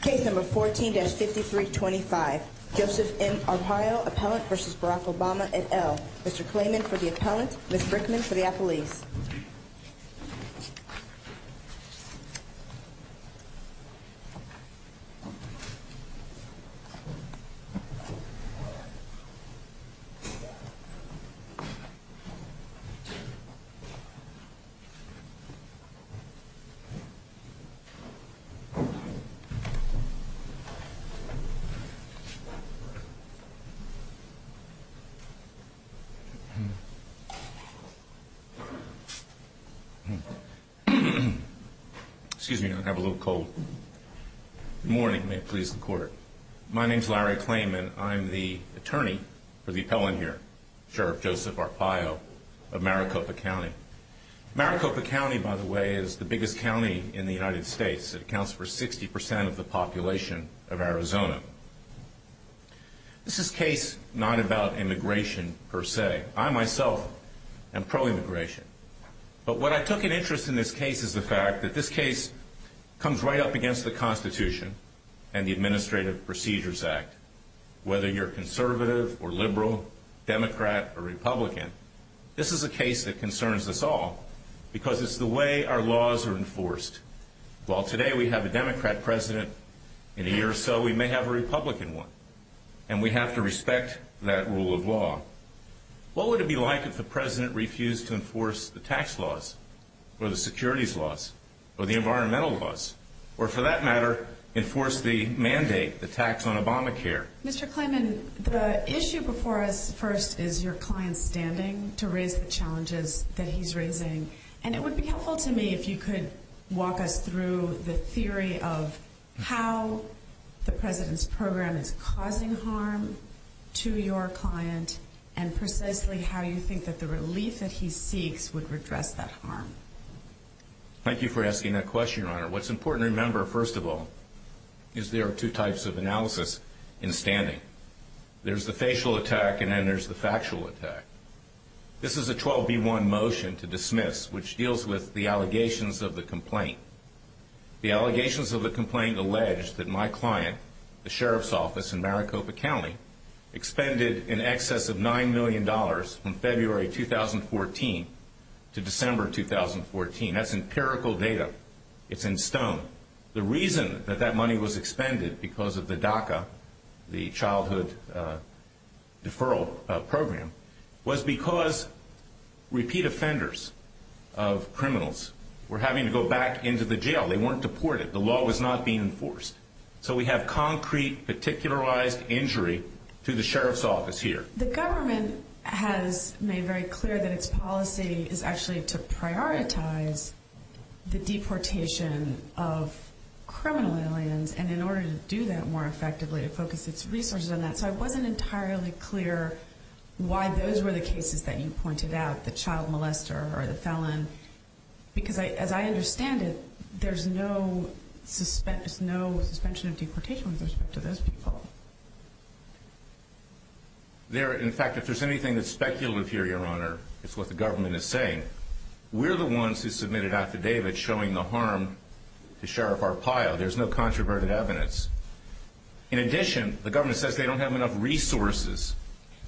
Case number 14-5325, Joseph M. Arpaio, Appellant v. Barack Obama et al. Mr. Klayman for the Appellant, Ms. Brickman for the Appellees. Excuse me, I have a little cold. Good morning, may it please the Court. My name is Larry Klayman. I'm the Attorney for the Appellant here, Sheriff Joseph Arpaio of Maricopa County. Maricopa County, by the way, is the biggest county in the United States. It accounts for 60% of the population of Arizona. This is a case not about immigration per se. I, myself, am pro-immigration. But what I took an interest in this case is the fact that this case comes right up against the Constitution and the Administrative Procedures Act. Whether you're conservative or liberal, Democrat or Republican, this is a case that concerns us all. Because it's the way our laws are enforced. While today we have a Democrat President, in a year or so we may have a Republican one. And we have to respect that rule of law. What would it be like if the President refused to enforce the tax laws, or the securities laws, or the environmental laws? Or for that matter, enforce the mandate, the tax on Obamacare? Mr. Klayman, the issue before us first is your client's standing to raise the challenges that he's raising. And it would be helpful to me if you could walk us through the theory of how the President's program is causing harm to your client. And precisely how you think that the relief that he seeks would redress that harm. Thank you for asking that question, Your Honor. What's important to remember, first of all, is there are two types of analysis in standing. There's the facial attack, and then there's the factual attack. This is a 12B1 motion to dismiss, which deals with the allegations of the complaint. The allegations of the complaint allege that my client, the Sheriff's Office in Maricopa County, expended in excess of $9 million from February 2014 to December 2014. That's empirical data. It's in stone. The reason that that money was expended because of the DACA, the Childhood Deferral Program, was because repeat offenders of criminals were having to go back into the jail. They weren't deported. The law was not being enforced. So we have concrete, particularized injury to the Sheriff's Office here. The government has made very clear that its policy is actually to prioritize the deportation of criminal aliens. And in order to do that more effectively, it focused its resources on that. So I wasn't entirely clear why those were the cases that you pointed out, the child molester or the felon, because as I understand it, there's no suspension of deportation with respect to those people. In fact, if there's anything that's speculative here, Your Honor, it's what the government is saying. We're the ones who submitted affidavit showing the harm to Sheriff Arpaio. There's no controverted evidence. In addition, the government says they don't have enough resources.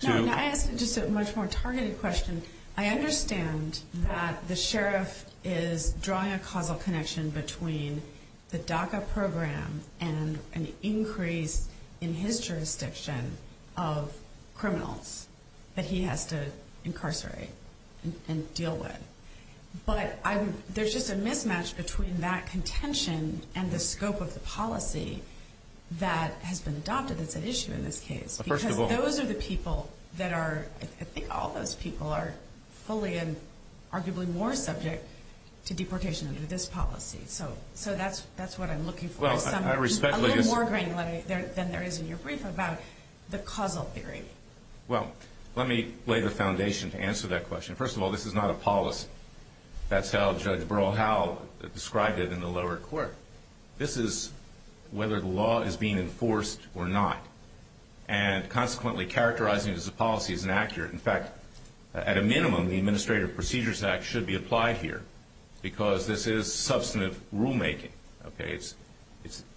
Now, can I ask just a much more targeted question? I understand that the sheriff is drawing a causal connection between the DACA program and an increase in his jurisdiction of criminals that he has to incarcerate and deal with. But there's just a mismatch between that contention and the scope of the policy that has been adopted that's at issue in this case. Because those are the people that are – I think all those people are fully and arguably more subject to deportation under this policy. So that's what I'm looking for, a little more granularity than there is in your brief about the causal theory. Well, let me lay the foundation to answer that question. First of all, this is not a policy. That's how Judge Burrell Howell described it in the lower court. This is whether the law is being enforced or not. And consequently, characterizing it as a policy is inaccurate. In fact, at a minimum, the Administrative Procedures Act should be applied here because this is substantive rulemaking. It's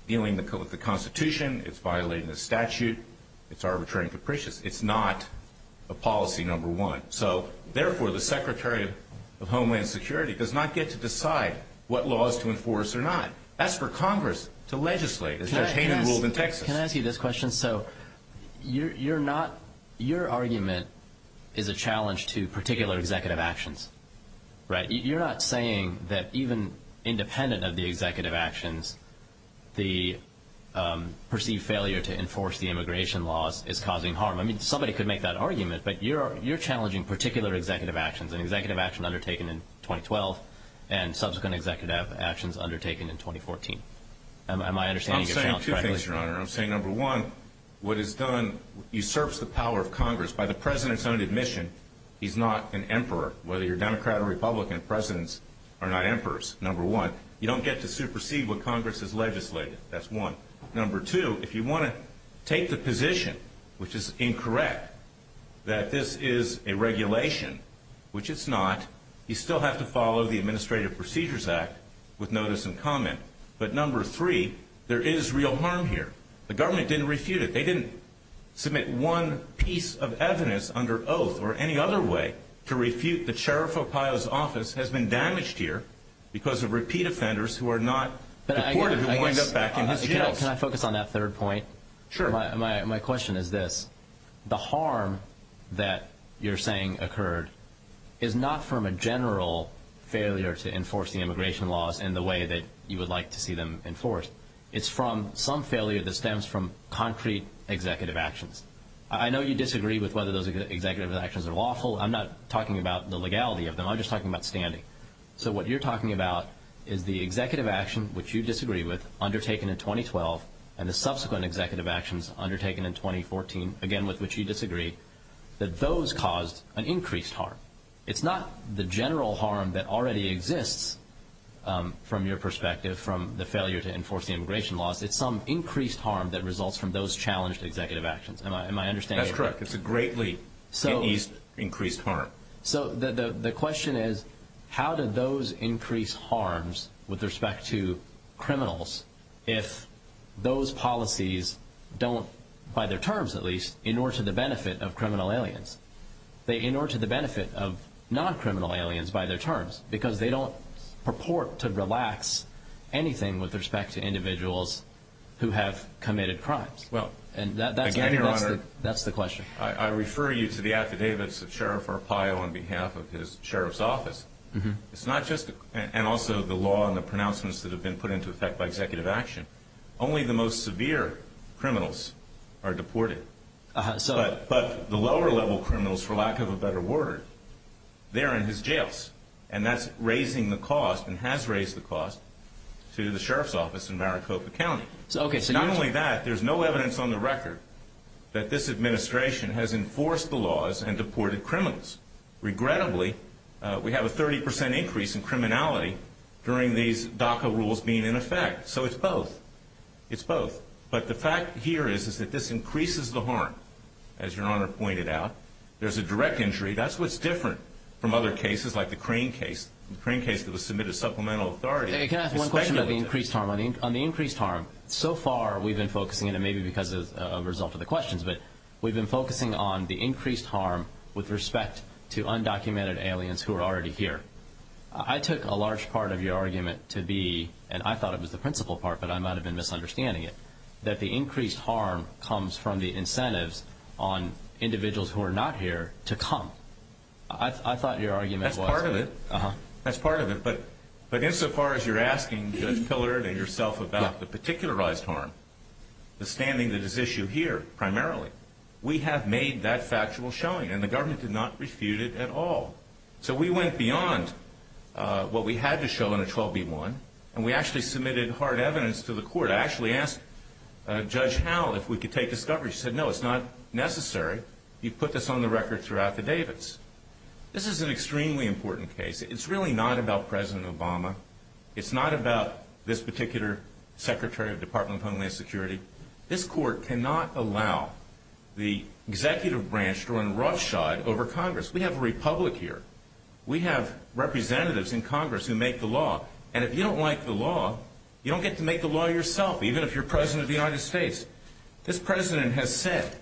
dealing with the Constitution. It's violating the statute. It's arbitrary and capricious. It's not a policy, number one. So, therefore, the Secretary of Homeland Security does not get to decide what laws to enforce or not. That's for Congress to legislate, as Judge Hayden ruled in Texas. Can I ask you this question? So you're not – your argument is a challenge to particular executive actions, right? You're not saying that even independent of the executive actions, the perceived failure to enforce the immigration laws is causing harm. I mean, somebody could make that argument, but you're challenging particular executive actions, an executive action undertaken in 2012 and subsequent executive actions undertaken in 2014. Am I understanding your challenge correctly? I'm saying two things, Your Honor. I'm saying, number one, what is done usurps the power of Congress. By the President's own admission, he's not an emperor. Whether you're Democrat or Republican, Presidents are not emperors, number one. You don't get to supersede what Congress has legislated. That's one. Number two, if you want to take the position, which is incorrect, that this is a regulation, which it's not, you still have to follow the Administrative Procedures Act with notice and comment. But number three, there is real harm here. The government didn't refute it. They didn't submit one piece of evidence under oath or any other way to refute the sheriff of Ohio's office has been damaged here because of repeat offenders who are not deported who wind up back in his jails. Can I focus on that third point? Sure. My question is this. The harm that you're saying occurred is not from a general failure to enforce the immigration laws in the way that you would like to see them enforced. It's from some failure that stems from concrete executive actions. I know you disagree with whether those executive actions are lawful. I'm not talking about the legality of them. I'm just talking about standing. So what you're talking about is the executive action, which you disagree with, undertaken in 2012, and the subsequent executive actions undertaken in 2014, again, with which you disagree, that those caused an increased harm. It's not the general harm that already exists from your perspective from the failure to enforce the immigration laws. It's some increased harm that results from those challenged executive actions. Am I understanding correctly? That's correct. It's a greatly increased harm. So the question is how do those increase harms with respect to criminals if those policies don't, by their terms at least, in order to the benefit of criminal aliens, they in order to the benefit of non-criminal aliens by their terms, because they don't purport to relax anything with respect to individuals who have committed crimes. Well, again, Your Honor. That's the question. I refer you to the affidavits of Sheriff Arpaio on behalf of his sheriff's office. It's not just, and also the law and the pronouncements that have been put into effect by executive action. Only the most severe criminals are deported. But the lower-level criminals, for lack of a better word, they're in his jails, and that's raising the cost and has raised the cost to the sheriff's office in Maricopa County. Not only that, there's no evidence on the record that this administration has enforced the laws and deported criminals. Regrettably, we have a 30 percent increase in criminality during these DACA rules being in effect. So it's both. It's both. But the fact here is that this increases the harm, as Your Honor pointed out. There's a direct injury. That's what's different from other cases like the Crane case, the Crane case that was submitted to supplemental authority. Can I ask one question about the increased harm? On the increased harm, so far we've been focusing, and maybe because of a result of the questions, but we've been focusing on the increased harm with respect to undocumented aliens who are already here. I took a large part of your argument to be, and I thought it was the principal part, but I might have been misunderstanding it, that the increased harm comes from the incentives on individuals who are not here to come. I thought your argument was. That's part of it. That's part of it. But insofar as you're asking Judge Pillard and yourself about the particularized harm, the standing that is issued here primarily, we have made that factual showing, and the government did not refute it at all. So we went beyond what we had to show in a 12B1, and we actually submitted hard evidence to the court. I actually asked Judge Howell if we could take discovery. She said, no, it's not necessary. You put this on the record through affidavits. This is an extremely important case. It's really not about President Obama. It's not about this particular Secretary of the Department of Homeland Security. This court cannot allow the executive branch to run roughshod over Congress. We have a republic here. We have representatives in Congress who make the law, and if you don't like the law, you don't get to make the law yourself, even if you're President of the United States. This President has said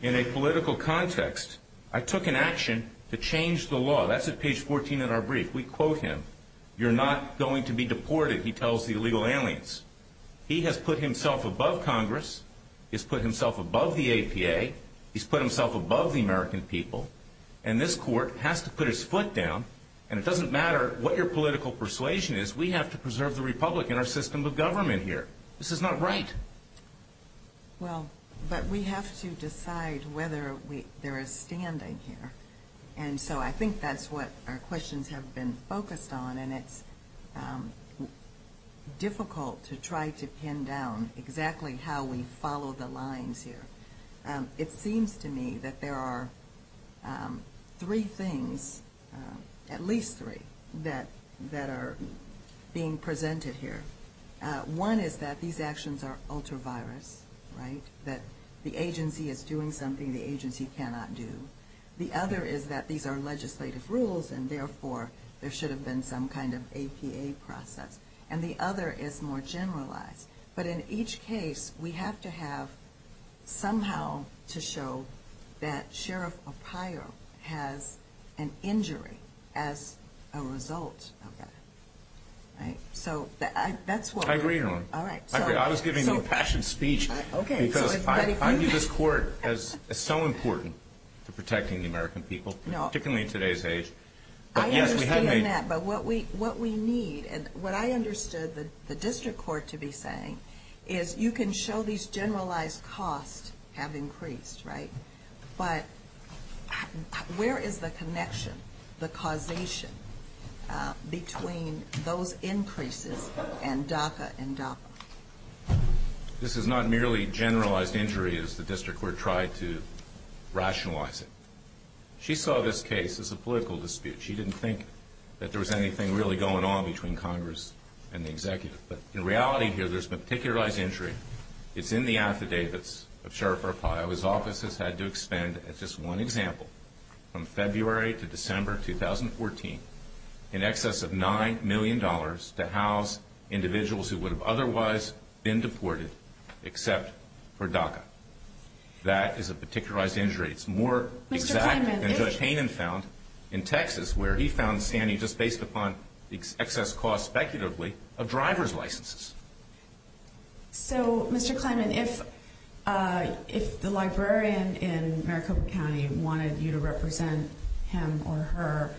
in a political context, I took an action to change the law. That's at page 14 in our brief. We quote him. You're not going to be deported, he tells the illegal aliens. He has put himself above Congress. He's put himself above the APA. He's put himself above the American people, and this court has to put his foot down, and it doesn't matter what your political persuasion is. We have to preserve the republic in our system of government here. This is not right. Well, but we have to decide whether there is standing here, and so I think that's what our questions have been focused on, and it's difficult to try to pin down exactly how we follow the lines here. It seems to me that there are three things, at least three, that are being presented here. One is that these actions are ultra-virus, right, that the agency is doing something the agency cannot do. The other is that these are legislative rules, and therefore there should have been some kind of APA process. And the other is more generalized. But in each case, we have to have somehow to show that Sheriff O'Connor has an injury as a result of that. So that's what we're doing. I agree. I was giving a compassionate speech because I view this court as so important to protecting the American people, particularly in today's age. I understand that, but what we need, and what I understood the district court to be saying, is you can show these generalized costs have increased, right, but where is the connection, the causation, between those increases and DACA and DAPA? This is not merely generalized injury, as the district court tried to rationalize it. She saw this case as a political dispute. She didn't think that there was anything really going on between Congress and the executive. But in reality here, there's been particularized injury. It's in the affidavits of Sheriff Arpaio. His office has had to expend, as just one example, from February to December 2014, in excess of $9 million to house individuals who would have otherwise been deported except for DACA. That is a particularized injury. It's more exact than Judge Hayden found in Texas, where he found standing just based upon excess costs speculatively of driver's licenses. So, Mr. Kleiman, if the librarian in Maricopa County wanted you to represent him or her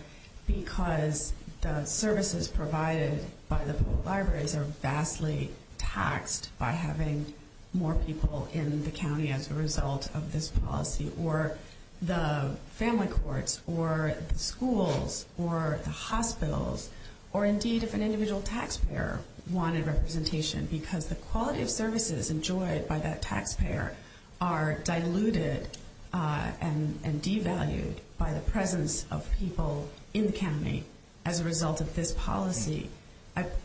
because the services provided by the public libraries are vastly taxed by having more people in the county as a result of this policy, or the family courts, or the schools, or the hospitals, or indeed if an individual taxpayer wanted representation because the quality of services enjoyed by that taxpayer are diluted and devalued by the presence of people in the county as a result of this policy,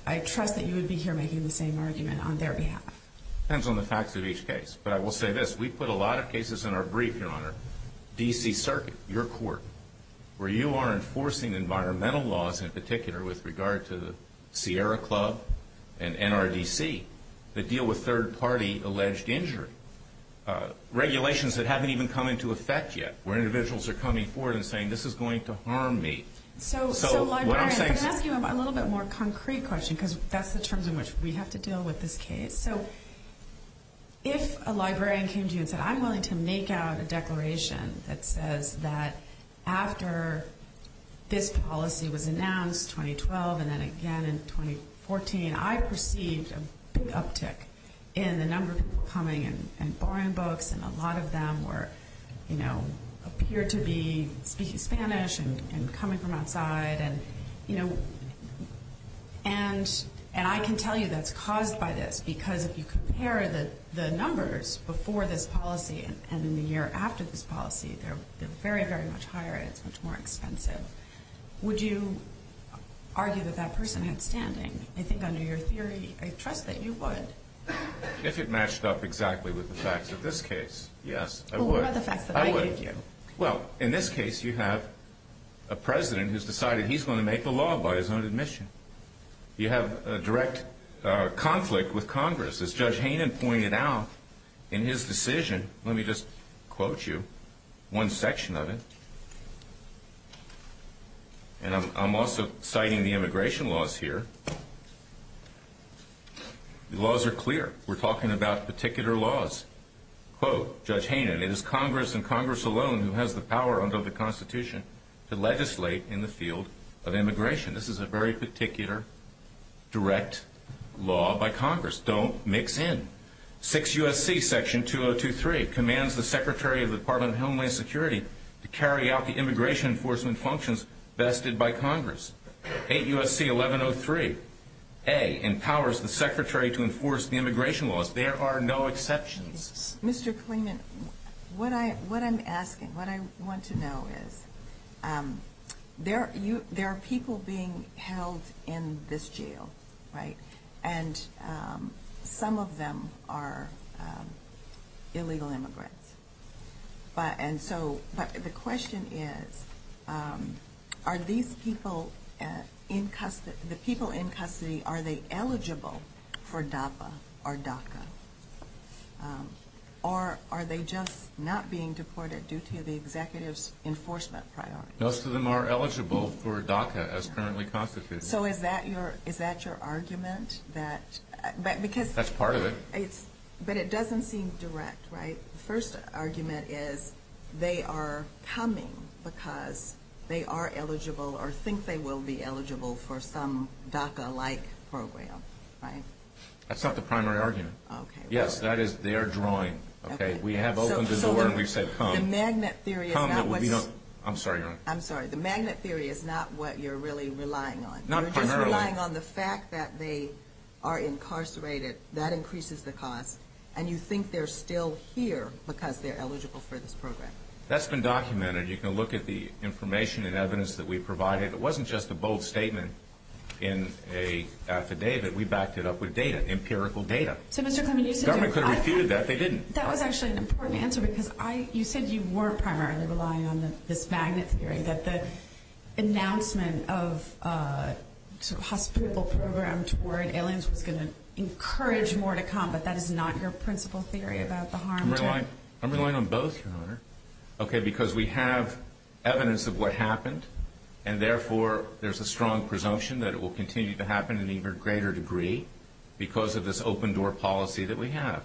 I trust that you would be here making the same argument on their behalf. It depends on the facts of each case. But I will say this. We put a lot of cases in our brief, Your Honor, D.C. Circuit, your court, where you are enforcing environmental laws in particular with regard to the Sierra Club and NRDC that deal with third-party alleged injury, regulations that haven't even come into effect yet, where individuals are coming forward and saying this is going to harm me. So, librarian, can I ask you a little bit more concrete question because that's the terms in which we have to deal with this case? So, if a librarian came to you and said, I'm willing to make out a declaration that says that after this policy was announced 2012 and then again in 2014, I perceived a big uptick in the number of people coming and borrowing books, and a lot of them were, you know, appeared to be speaking Spanish and coming from outside. And, you know, and I can tell you that's caused by this and in the year after this policy, they're very, very much higher and it's much more expensive. Would you argue that that person had standing? I think under your theory, I trust that you would. If it matched up exactly with the facts of this case, yes, I would. Well, what about the facts that I gave you? Well, in this case, you have a president who's decided he's going to make the law by his own admission. You have a direct conflict with Congress. As Judge Haynen pointed out in his decision, let me just quote you one section of it. And I'm also citing the immigration laws here. The laws are clear. We're talking about particular laws. Quote, Judge Haynen, it is Congress and Congress alone who has the power under the Constitution to legislate in the field of immigration. This is a very particular direct law by Congress. Don't mix in. 6 U.S.C. Section 2023 commands the Secretary of the Department of Homeland Security to carry out the immigration enforcement functions vested by Congress. 8 U.S.C. 1103a empowers the Secretary to enforce the immigration laws. There are no exceptions. Mr. Kleeman, what I'm asking, what I want to know is there are people being held in this jail, right? And some of them are illegal immigrants. And so the question is, are these people in custody, are they eligible for DAPA or DACA? Or are they just not being deported due to the executive's enforcement priorities? Most of them are eligible for DACA as currently constituted. So is that your argument? That's part of it. But it doesn't seem direct, right? The first argument is they are coming because they are eligible or think they will be eligible for some DACA-like program, right? That's not the primary argument. Yes, that is their drawing. We have opened the door and we've said come. The magnet theory is not what you're really relying on. You're just relying on the fact that they are incarcerated. That increases the cost. And you think they're still here because they're eligible for this program. That's been documented. You can look at the information and evidence that we provided. It wasn't just a bold statement in an affidavit. We backed it up with data, empirical data. The government could have refuted that. They didn't. That was actually an important answer because you said you were primarily relying on this magnet theory, that the announcement of a hospital program toward aliens was going to encourage more to come, but that is not your principal theory about the harm. I'm relying on both, Your Honor, because we have evidence of what happened, and therefore there's a strong presumption that it will continue to happen to an even greater degree because of this open-door policy that we have.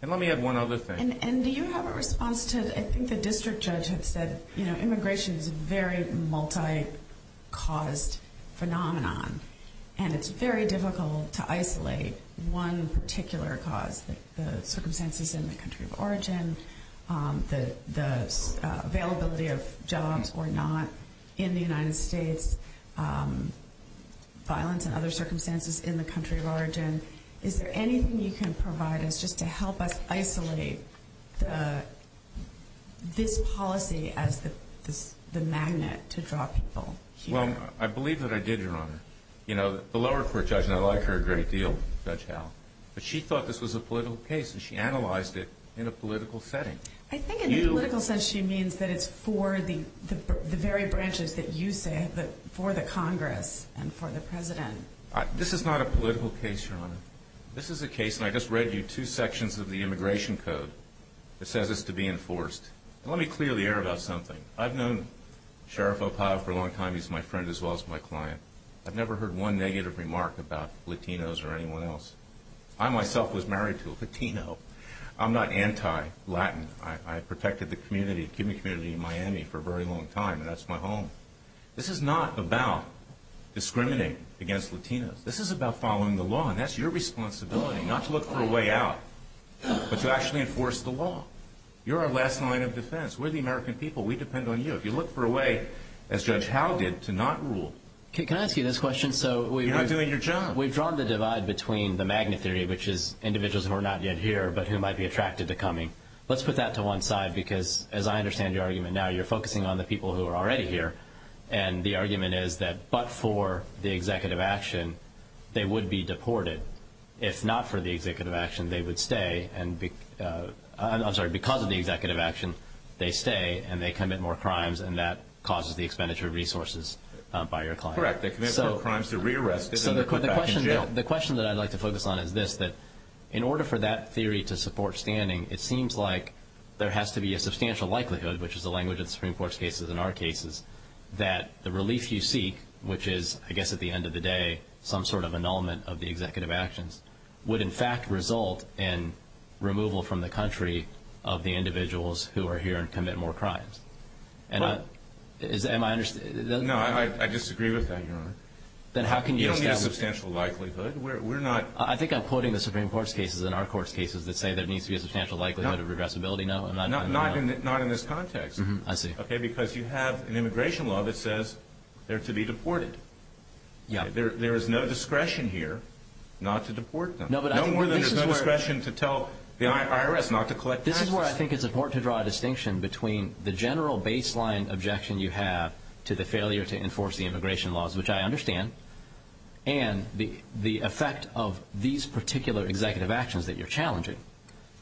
And let me add one other thing. And do you have a response to, I think the district judge had said, you know, immigration is a very multi-caused phenomenon, and it's very difficult to isolate one particular cause, the circumstances in the country of origin, the availability of jobs or not in the United States, violence and other circumstances in the country of origin. Is there anything you can provide us just to help us isolate this policy as the magnet to draw people here? Well, I believe that I did, Your Honor. You know, the lower court judge, and I like her a great deal, Judge Howe, but she thought this was a political case, and she analyzed it in a political setting. I think in a political sense she means that it's for the very branches that you said, for the Congress and for the President. This is not a political case, Your Honor. This is a case, and I just read you two sections of the immigration code. It says it's to be enforced. Let me clear the air about something. I've known Sheriff O'Powell for a long time. He's my friend as well as my client. I've never heard one negative remark about Latinos or anyone else. I myself was married to a Latino. I'm not anti-Latin. I protected the community, the Cuban community in Miami for a very long time, and that's my home. This is not about discriminating against Latinos. This is about following the law, and that's your responsibility, not to look for a way out but to actually enforce the law. You're our last line of defense. We're the American people. We depend on you. If you look for a way, as Judge Howe did, to not rule. Can I ask you this question? You're not doing your job. We've drawn the divide between the magnet theory, which is individuals who are not yet here but who might be attracted to coming. Let's put that to one side because, as I understand your argument now, you're focusing on the people who are already here, and the argument is that but for the executive action, they would be deported. If not for the executive action, they would stay. I'm sorry, because of the executive action, they stay and they commit more crimes, and that causes the expenditure of resources by your client. Correct. They commit more crimes, they're re-arrested, and they're put back in jail. The question that I'd like to focus on is this, that in order for that theory to support standing, it seems like there has to be a substantial likelihood, which is the language of the Supreme Court's cases and our cases, that the relief you seek, which is, I guess at the end of the day, some sort of annulment of the executive actions, would in fact result in removal from the country of the individuals who are here and commit more crimes. Am I understanding? No, I disagree with that, Your Honor. Then how can you establish that? You don't need a substantial likelihood. I think I'm quoting the Supreme Court's cases and our court's cases that say there needs to be a substantial likelihood of regressibility. No. Not in this context. I see. Okay, because you have an immigration law that says they're to be deported. Yeah. There is no discretion here not to deport them. No more than there's no discretion to tell the IRS not to collect taxes. This is where I think it's important to draw a distinction between the general baseline objection you have to the failure to enforce the immigration laws, which I understand, and the effect of these particular executive actions that you're challenging.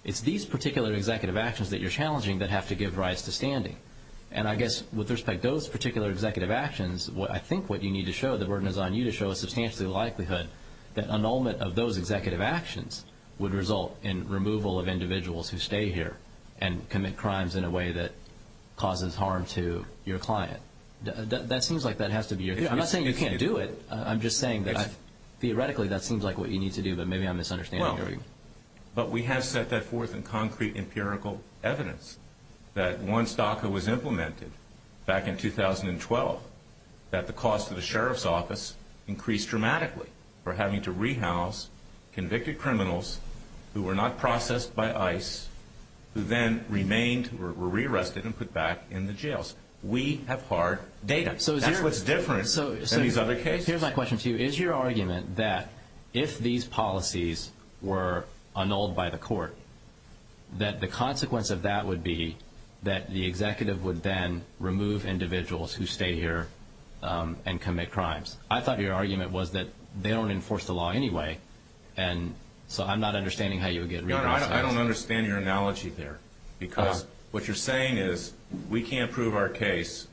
It's these particular executive actions that you're challenging that have to give rise to standing. And I guess with respect to those particular executive actions, I think what you need to show, the burden is on you to show a substantial likelihood that annulment of those executive actions would result in removal of individuals who stay here and commit crimes in a way that causes harm to your client. That seems like that has to be your view. I'm not saying you can't do it. I'm just saying that theoretically that seems like what you need to do, but maybe I'm misunderstanding. But we have set that forth in concrete empirical evidence that once DACA was implemented back in 2012, that the cost to the sheriff's office increased dramatically for having to rehouse convicted criminals who were not processed by ICE who then remained or were rearrested and put back in the jails. We have hard data. That's what's different than these other cases. So here's my question to you. Is your argument that if these policies were annulled by the court, that the consequence of that would be that the executive would then remove individuals who stay here and commit crimes? I thought your argument was that they don't enforce the law anyway, and so I'm not understanding how you would get regress on that. I don't understand your analogy there because what you're saying is we can't prove our case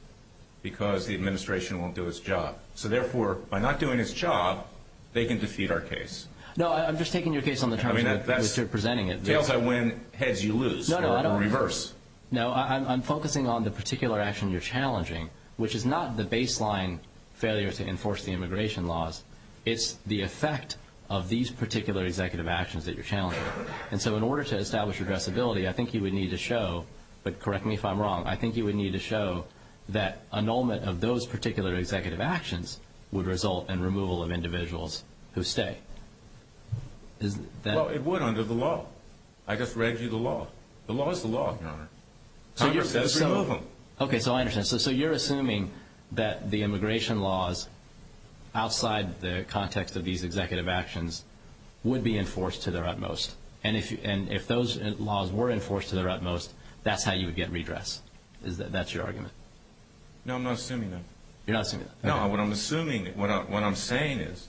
because the administration won't do its job. So, therefore, by not doing its job, they can defeat our case. No, I'm just taking your case on the terms of presenting it. Tails I win, heads you lose, or reverse. No, I'm focusing on the particular action you're challenging, which is not the baseline failure to enforce the immigration laws. It's the effect of these particular executive actions that you're challenging. And so in order to establish addressability, I think you would need to show, but correct me if I'm wrong, I think you would need to show that annulment of those particular executive actions would result in removal of individuals who stay. Well, it would under the law. I just read you the law. The law is the law, Your Honor. Congress has to remove them. Okay, so I understand. So you're assuming that the immigration laws outside the context of these executive actions would be enforced to their utmost, and if those laws were enforced to their utmost, that's how you would get redress. That's your argument? No, I'm not assuming that. You're not assuming that. No, what I'm assuming, what I'm saying is,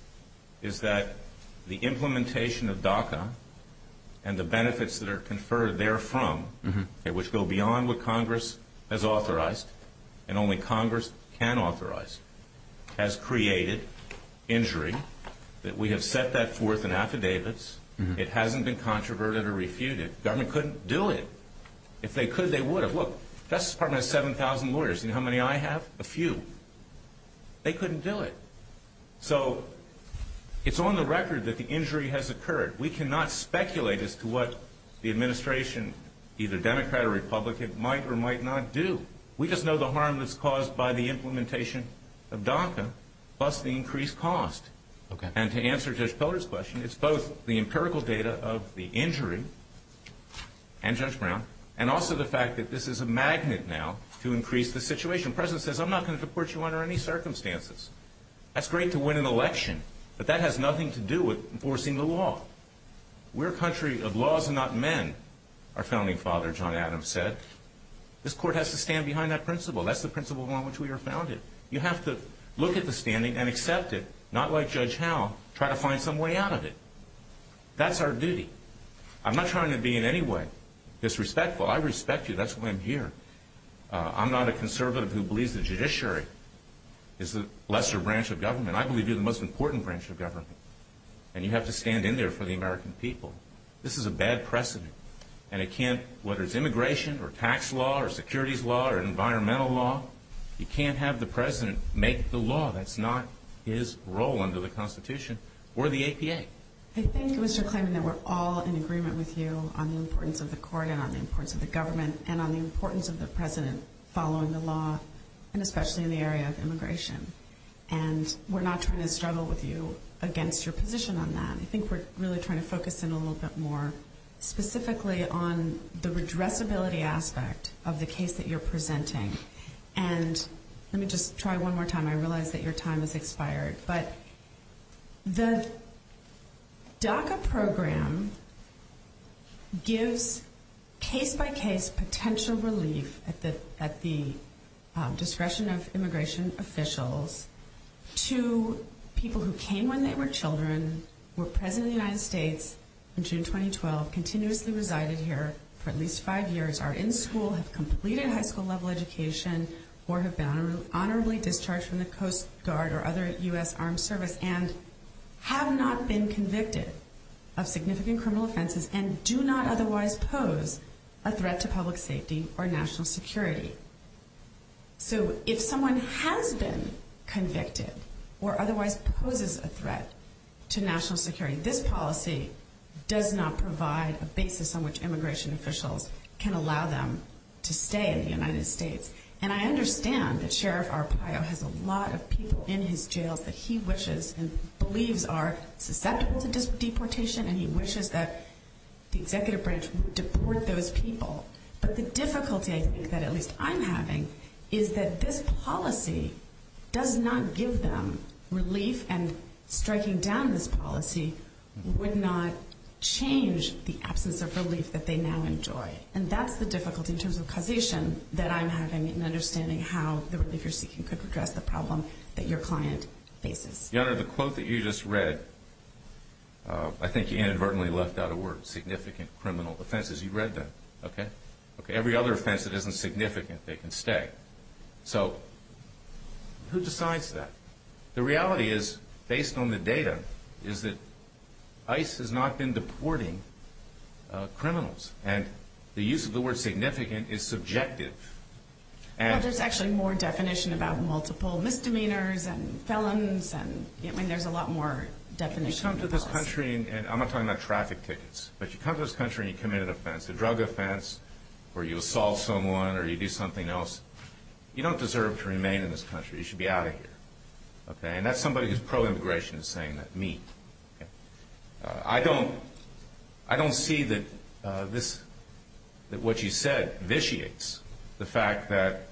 is that the implementation of DACA and the benefits that are conferred therefrom, which go beyond what Congress has authorized and only Congress can authorize, has created injury, that we have set that forth in affidavits. It hasn't been controverted or refuted. The government couldn't do it. If they could, they would have. Look, Justice Department has 7,000 lawyers. Do you know how many I have? A few. They couldn't do it. So it's on the record that the injury has occurred. We cannot speculate as to what the administration, either Democrat or Republican, might or might not do. We just know the harm that's caused by the implementation of DACA plus the increased cost. And to answer Judge Poehler's question, it's both the empirical data of the injury and Judge Brown and also the fact that this is a magnet now to increase the situation. The President says, I'm not going to deport you under any circumstances. That's great to win an election, but that has nothing to do with enforcing the law. We're a country of laws and not men, our founding father John Adams said. This court has to stand behind that principle. That's the principle on which we were founded. You have to look at the standing and accept it, not like Judge Howe, try to find some way out of it. That's our duty. I'm not trying to be in any way disrespectful. I respect you. That's why I'm here. I'm not a conservative who believes the judiciary is the lesser branch of government. I believe you're the most important branch of government. And you have to stand in there for the American people. This is a bad precedent. And it can't, whether it's immigration or tax law or securities law or environmental law, you can't have the President make the law. That's not his role under the Constitution or the APA. I think it was your claim that we're all in agreement with you on the importance of the court and on the importance of the government and on the importance of the President following the law, and especially in the area of immigration. And we're not trying to struggle with you against your position on that. I think we're really trying to focus in a little bit more specifically on the redressability aspect of the case that you're presenting. And let me just try one more time. I realize that your time has expired. But the DACA program gives case-by-case potential relief at the discretion of immigration officials to people who came when they were children, were President of the United States in June 2012, continuously resided here for at least five years, are in school, have completed high school level education, or have been honorably discharged from the Coast Guard or other U.S. armed service, and have not been convicted of significant criminal offenses and do not otherwise pose a threat to public safety or national security. So if someone has been convicted or otherwise poses a threat to national security, this policy does not provide a basis on which immigration officials can allow them to stay in the United States. And I understand that Sheriff Arpaio has a lot of people in his jails that he wishes and believes are susceptible to deportation, and he wishes that the Executive Branch would deport those people. But the difficulty I think that at least I'm having is that this policy does not give them relief, and striking down this policy would not change the absence of relief that they now enjoy. And that's the difficulty in terms of causation that I'm having in understanding how the relief you're seeking could address the problem that your client faces. Your Honor, the quote that you just read, I think you inadvertently left out a word, significant criminal offenses. You read that, okay? Every other offense that isn't significant, they can stay. So who decides that? The reality is, based on the data, is that ICE has not been deporting criminals, and the use of the word significant is subjective. Well, there's actually more definition about multiple misdemeanors and felons. I mean, there's a lot more definition. You come to this country, and I'm not talking about traffic tickets, but you come to this country and you commit an offense, a drug offense, or you assault someone or you do something else, you don't deserve to remain in this country. You should be out of here. And that's somebody who's pro-immigration is saying that, me. I don't see that what you said vitiates the fact that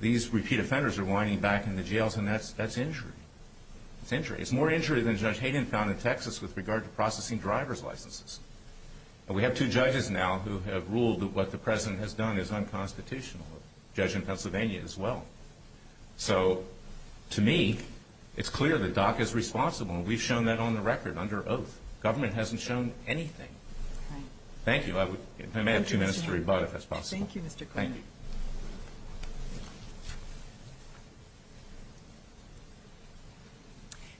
these repeat offenders are winding back into jails, and that's injury. It's injury. It's more injury than Judge Hayden found in Texas with regard to processing driver's licenses. We have two judges now who have ruled that what the President has done is unconstitutional, a judge in Pennsylvania as well. So, to me, it's clear that DACA is responsible, and we've shown that on the record under oath. Government hasn't shown anything. Thank you. I may have two minutes to rebut if that's possible. Thank you, Mr. Cooney. Thank you.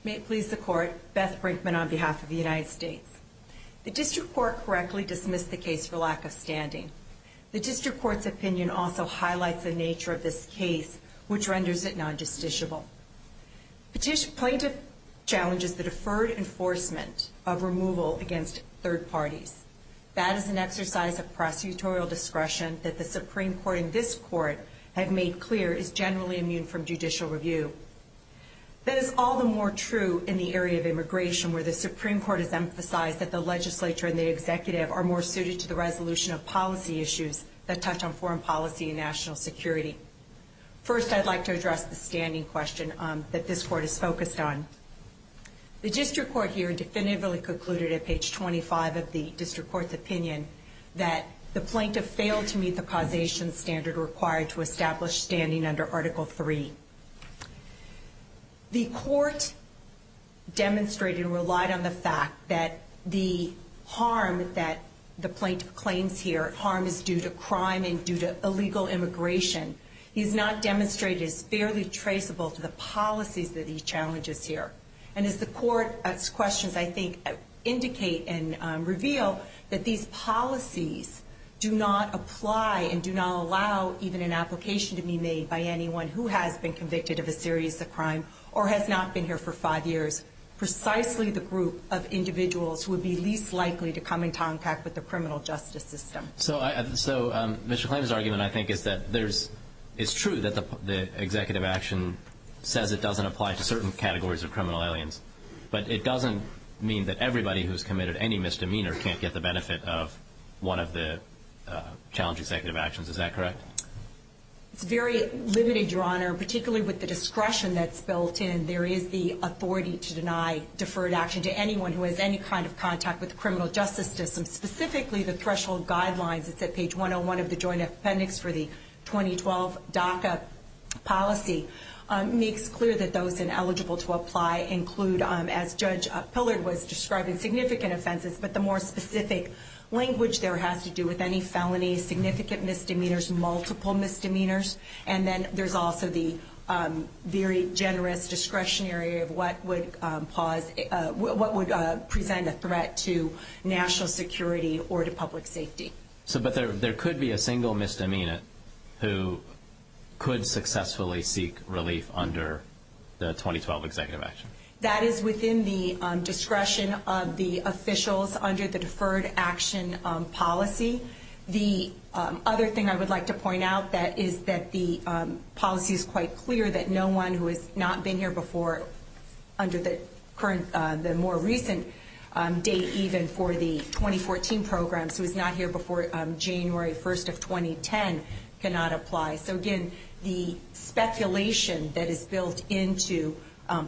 May it please the Court, Beth Brinkman on behalf of the United States. The District Court correctly dismissed the case for lack of standing. The District Court's opinion also highlights the nature of this case, which renders it non-justiciable. The plaintiff challenges the deferred enforcement of removal against third parties. That is an exercise of prosecutorial discretion that the Supreme Court and this Court have made clear is generally immune from judicial review. That is all the more true in the area of immigration, where the Supreme Court has emphasized that the legislature and the executive are more suited to the resolution of policy issues that touch on foreign policy and national security. First, I'd like to address the standing question that this Court is focused on. The District Court here definitively concluded at page 25 of the District Court's opinion that the plaintiff failed to meet the causation standard required to establish standing under Article III. The Court demonstrated and relied on the fact that the harm that the plaintiff claims here, harm is due to crime and due to illegal immigration, is not demonstrated as fairly traceable to the policies that he challenges here. And as the Court's questions, I think, indicate and reveal that these policies do not apply and do not allow even an application to be made by anyone who has been convicted of a serious crime or has not been here for five years. Precisely the group of individuals who would be least likely to come in contact with the criminal justice system. So Mr. Klain's argument, I think, is that it's true that the executive action says it doesn't apply to certain categories of criminal aliens. But it doesn't mean that everybody who's committed any misdemeanor can't get the benefit of one of the challenge executive actions. Is that correct? It's very limited, Your Honor, particularly with the discretion that's built in. There is the authority to deny deferred action to anyone who has any kind of contact with the criminal justice system. Specifically, the threshold guidelines, it's at page 101 of the Joint Appendix for the 2012 DACA policy, makes clear that those ineligible to apply include, as Judge Pillard was describing, significant offenses, but the more specific language there has to do with any felony, significant misdemeanors, multiple misdemeanors. And then there's also the very generous discretionary of what would present a threat to national security or to public safety. But there could be a single misdemeanor who could successfully seek relief under the 2012 executive action? That is within the discretion of the officials under the deferred action policy. The other thing I would like to point out is that the policy is quite clear that no one who has not been here before, under the more recent date even for the 2014 program, who was not here before January 1st of 2010, cannot apply. So, again, the speculation that is built into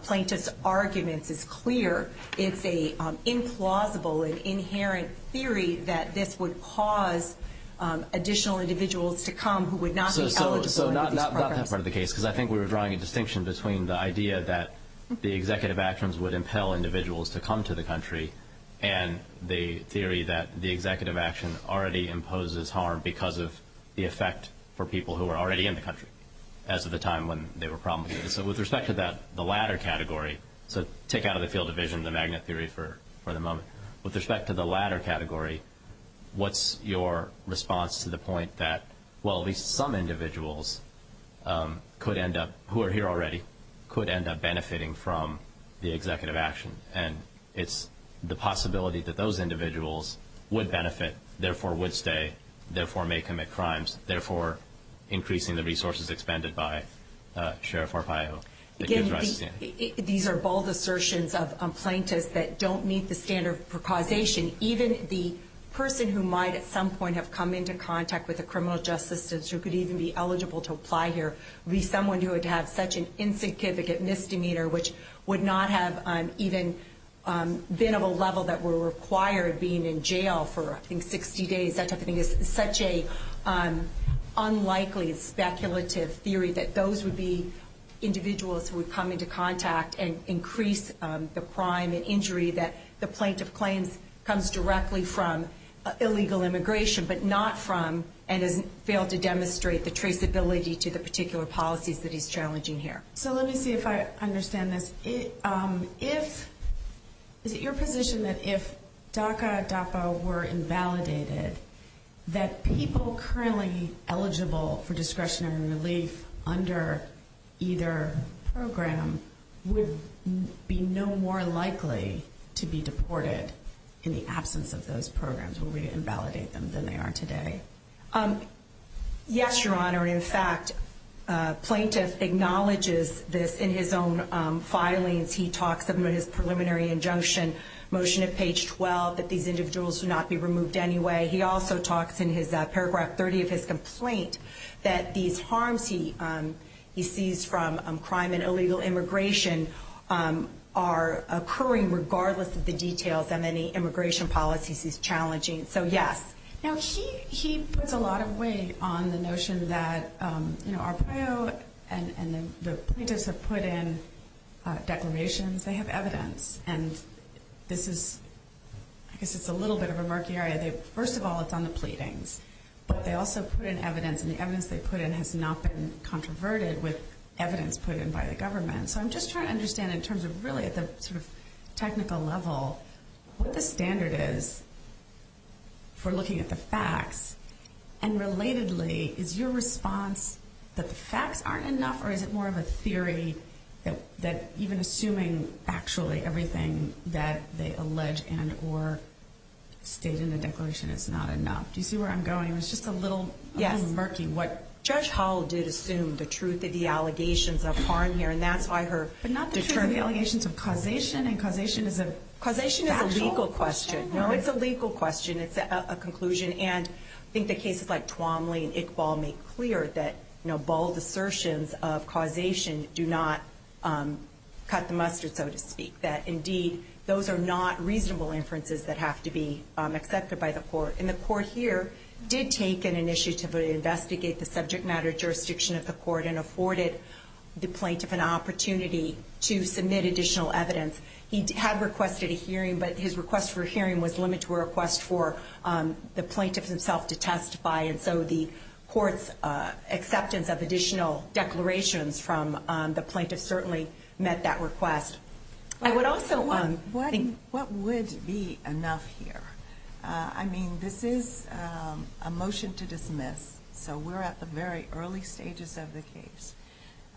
plaintiff's arguments is clear. It's an implausible and inherent theory that this would cause additional individuals to come who would not be eligible under these programs. So not that part of the case, because I think we were drawing a distinction between the idea that the executive actions would impel individuals to come to the country and the theory that the executive action already imposes harm because of the effect for people who are already in the country, as of the time when they were probably here. So with respect to that, the latter category, so take out of the field of vision the magnet theory for the moment. With respect to the latter category, what's your response to the point that, well, at least some individuals could end up, who are here already, could end up benefiting from the executive action? And it's the possibility that those individuals would benefit, therefore would stay, therefore may commit crimes, therefore increasing the resources expended by Sheriff Arpaio. Again, these are bold assertions of plaintiffs that don't meet the standard for causation. Even the person who might at some point have come into contact with a criminal justice system, who could even be eligible to apply here, would be someone who would have such an insignificant misdemeanor, which would not have even been of a level that were required being in jail for, I think, 60 days. I think it's such an unlikely speculative theory that those would be individuals who would come into contact and increase the crime and injury that the plaintiff claims comes directly from illegal immigration, but not from and has failed to demonstrate the traceability to the particular policies that he's challenging here. So let me see if I understand this. Is it your position that if DACA, DAPA were invalidated, that people currently eligible for discretionary relief under either program would be no more likely to be deported in the absence of those programs, would we invalidate them than they are today? Yes, Your Honor. In fact, plaintiff acknowledges this in his own filings. He talks about his preliminary injunction, motion at page 12, that these individuals should not be removed anyway. He also talks in paragraph 30 of his complaint that these harms he sees from crime and illegal immigration are occurring regardless of the details of any immigration policies he's challenging. So, yes. Now, he puts a lot of weight on the notion that, you know, Arpaio and the plaintiffs have put in declarations. They have evidence, and this is, I guess it's a little bit of a murky area. First of all, it's on the pleadings, but they also put in evidence, and the evidence they put in has not been controverted with evidence put in by the government. So I'm just trying to understand in terms of really at the sort of technical level, what the standard is for looking at the facts, and relatedly, is your response that the facts aren't enough, or is it more of a theory that even assuming actually everything that they allege and or state in the declaration is not enough? Do you see where I'm going? It's just a little murky. Judge Howell did assume the truth of the allegations of harm here, and that's why her determined allegations of causation, and causation is a factual question. Causation is a legal question. No, it's a legal question. It's a conclusion. And I think the cases like Twomley and Iqbal make clear that, you know, bold assertions of causation do not cut the mustard, so to speak, that indeed those are not reasonable inferences that have to be accepted by the court. And the court here did take an initiative to investigate the subject matter jurisdiction of the court and afforded the plaintiff an opportunity to submit additional evidence. He had requested a hearing, but his request for a hearing was limited to a request for the plaintiff himself to testify, and so the court's acceptance of additional declarations from the plaintiff certainly met that request. What would be enough here? I mean, this is a motion to dismiss, so we're at the very early stages of the case.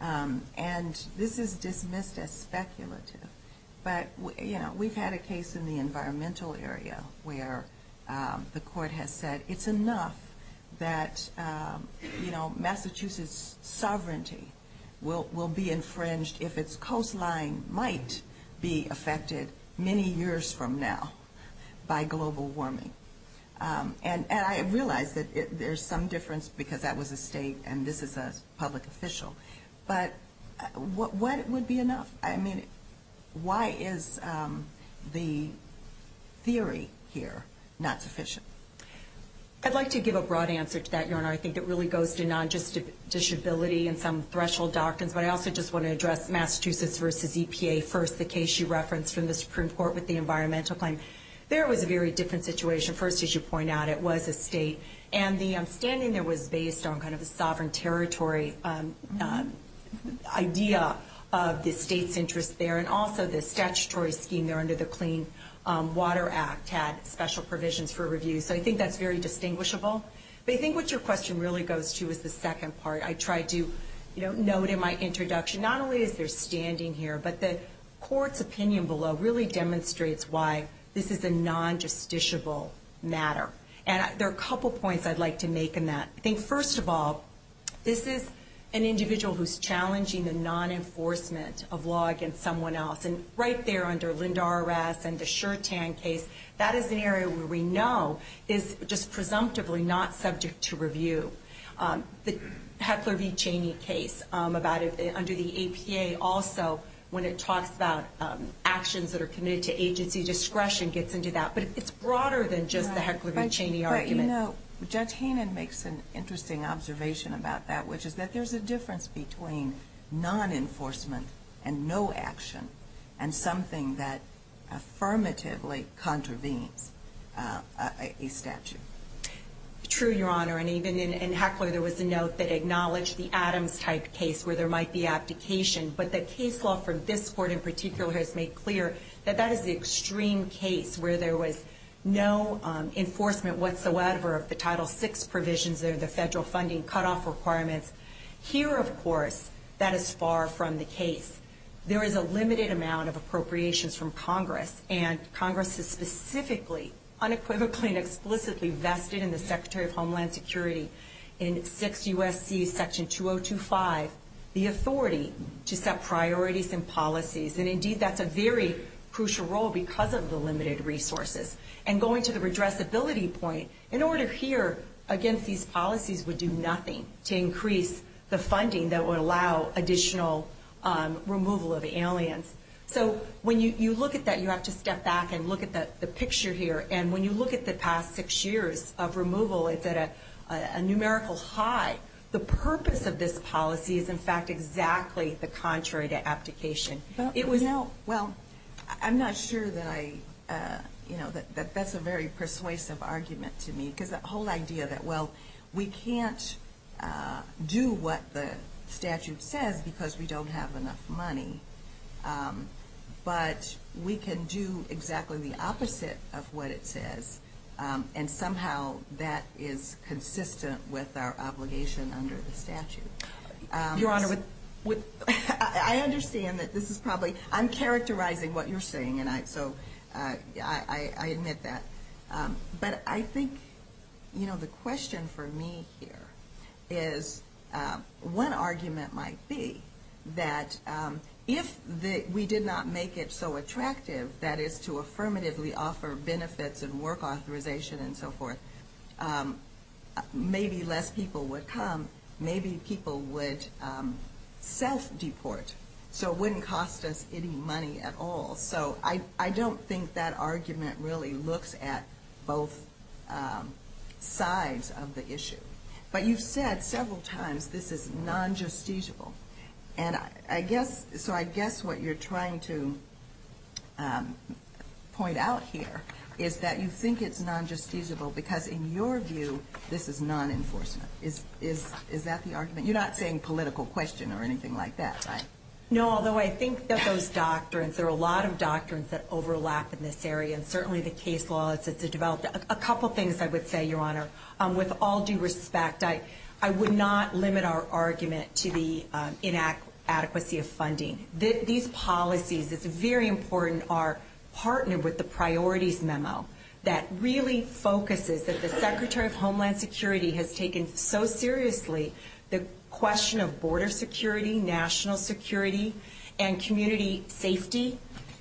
And this is dismissed as speculative, but, you know, we've had a case in the environmental area where the court has said it's enough that, you know, Massachusetts' sovereignty will be infringed if its coastline might be affected many years from now by global warming. And I realize that there's some difference because that was a state and this is a public official, but what would be enough? I mean, why is the theory here not sufficient? I'd like to give a broad answer to that, Your Honor. I think it really goes to non-disability and some threshold doctrines, but I also just want to address Massachusetts v. EPA first, the case you referenced from the Supreme Court with the environmental claim. There was a very different situation. First, as you point out, it was a state, and the standing there was based on kind of a sovereign territory idea of the state's interest there, and also the statutory scheme there under the Clean Water Act had special provisions for review, so I think that's very distinguishable. But I think what your question really goes to is the second part. I tried to, you know, note in my introduction, not only is there standing here, but the court's opinion below really demonstrates why this is a non-justiciable matter. And there are a couple points I'd like to make in that. I think, first of all, this is an individual who's challenging the non-enforcement of law against someone else, and right there under Lynda Arras and the Shertan case, that is an area where we know is just presumptively not subject to review. The Heckler v. Cheney case under the APA also, when it talks about actions that are committed to agency discretion, gets into that. But it's broader than just the Heckler v. Cheney argument. Judge Hannon makes an interesting observation about that, which is that there's a difference between non-enforcement and no action, and something that affirmatively contravenes a statute. True, Your Honor, and even in Heckler, there was a note that acknowledged the Adams-type case where there might be abdication. But the case law for this court in particular has made clear that that is the extreme case where there was no enforcement whatsoever of the Title VI provisions or the federal funding cutoff requirements. Here, of course, that is far from the case. There is a limited amount of appropriations from Congress, and Congress has specifically, unequivocally, and explicitly vested in the Secretary of Homeland Security in 6 U.S.C. Section 2025, the authority to set priorities and policies. And indeed, that's a very crucial role because of the limited resources. And going to the redressability point, in order here against these policies would do nothing to increase the funding that would allow additional removal of aliens. So when you look at that, you have to step back and look at the picture here. And when you look at the past 6 years of removal, it's at a numerical high. The purpose of this policy is, in fact, exactly the contrary to abdication. Well, I'm not sure that I, you know, that that's a very persuasive argument to me because that whole idea that, well, we can't do what the statute says because we don't have enough money. But we can do exactly the opposite of what it says, and somehow that is consistent with our obligation under the statute. Your Honor, with – I understand that this is probably – I'm characterizing what you're saying, and so I admit that. But I think, you know, the question for me here is one argument might be that if we did not make it so attractive, that is to affirmatively offer benefits and work authorization and so forth, maybe less people would come, maybe people would self-deport. So it wouldn't cost us any money at all. So I don't think that argument really looks at both sides of the issue. But you've said several times this is non-justiciable. And I guess – so I guess what you're trying to point out here is that you think it's non-justiciable because, in your view, this is non-enforcement. Is that the argument? You're not saying political question or anything like that, right? No, although I think that those doctrines – there are a lot of doctrines that overlap in this area, and certainly the case law, it's a developed – a couple things I would say, Your Honor. With all due respect, I would not limit our argument to the inadequacy of funding. These policies, it's very important, are partnered with the priorities memo that really focuses that the Secretary of Homeland Security has taken so seriously the question of border security, national security, and community safety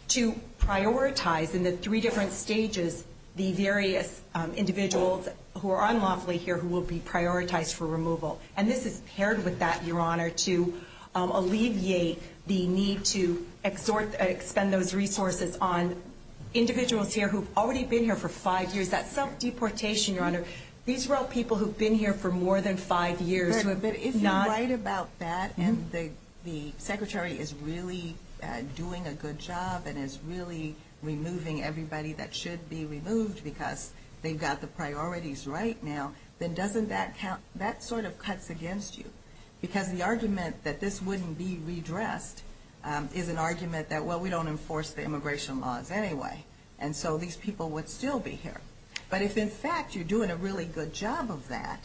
to prioritize in the three different stages the various individuals who are unlawfully here who will be prioritized for removal. And this is paired with that, Your Honor, to alleviate the need to expend those resources on individuals here who have already been here for five years. That's self-deportation, Your Honor. These are all people who have been here for more than five years. But if you write about that and the Secretary is really doing a good job and is really removing everybody that should be removed because they've got the priorities right now, then doesn't that – that sort of cuts against you because the argument that this wouldn't be redressed is an argument that, well, we don't enforce the immigration laws anyway, and so these people would still be here. But if, in fact, you're doing a really good job of that,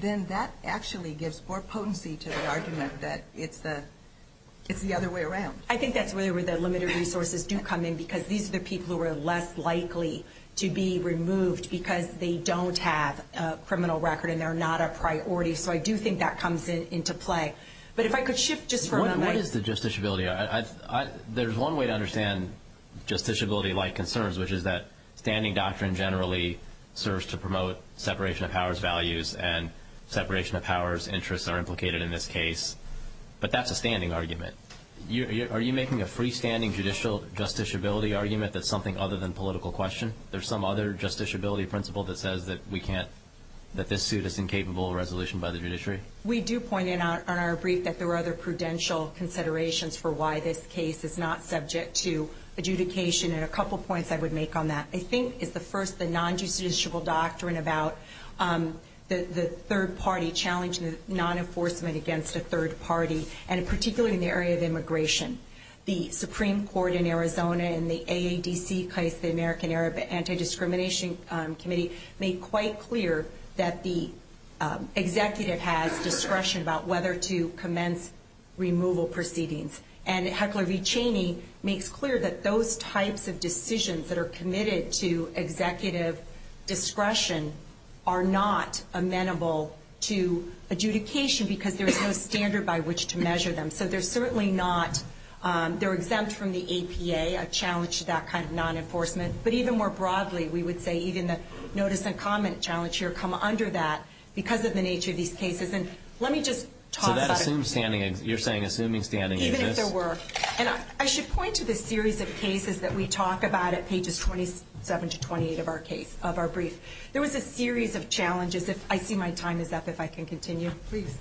then that actually gives more potency to the argument that it's the other way around. I think that's really where the limited resources do come in because these are the people who are less likely to be removed because they don't have a criminal record and they're not a priority. So I do think that comes into play. But if I could shift just for a moment. What is the justiciability? There's one way to understand justiciability-like concerns, which is that standing doctrine generally serves to promote separation of powers values and separation of powers interests are implicated in this case. But that's a standing argument. Are you making a freestanding judicial justiciability argument that's something other than political question? There's some other justiciability principle that says that we can't – that this suit is incapable of resolution by the judiciary? We do point out in our brief that there are other prudential considerations for why this case is not subject to adjudication. And a couple points I would make on that. I think it's the first, the non-judiciable doctrine about the third party challenging non-enforcement against a third party, and particularly in the area of immigration. The Supreme Court in Arizona in the AADC case, the American Arab Anti-Discrimination Committee, made quite clear that the executive has discretion about whether to commence removal proceedings. And Heckler v. Cheney makes clear that those types of decisions that are committed to executive discretion are not amenable to adjudication because there's no standard by which to measure them. So they're certainly not – they're exempt from the APA, a challenge to that kind of non-enforcement. But even more broadly, we would say even the notice and comment challenge here come under that because of the nature of these cases. And let me just talk about it. You're saying assuming standing exists? Even if there were. And I should point to the series of cases that we talk about at pages 27 to 28 of our brief. There was a series of challenges. I see my time is up if I can continue. Please.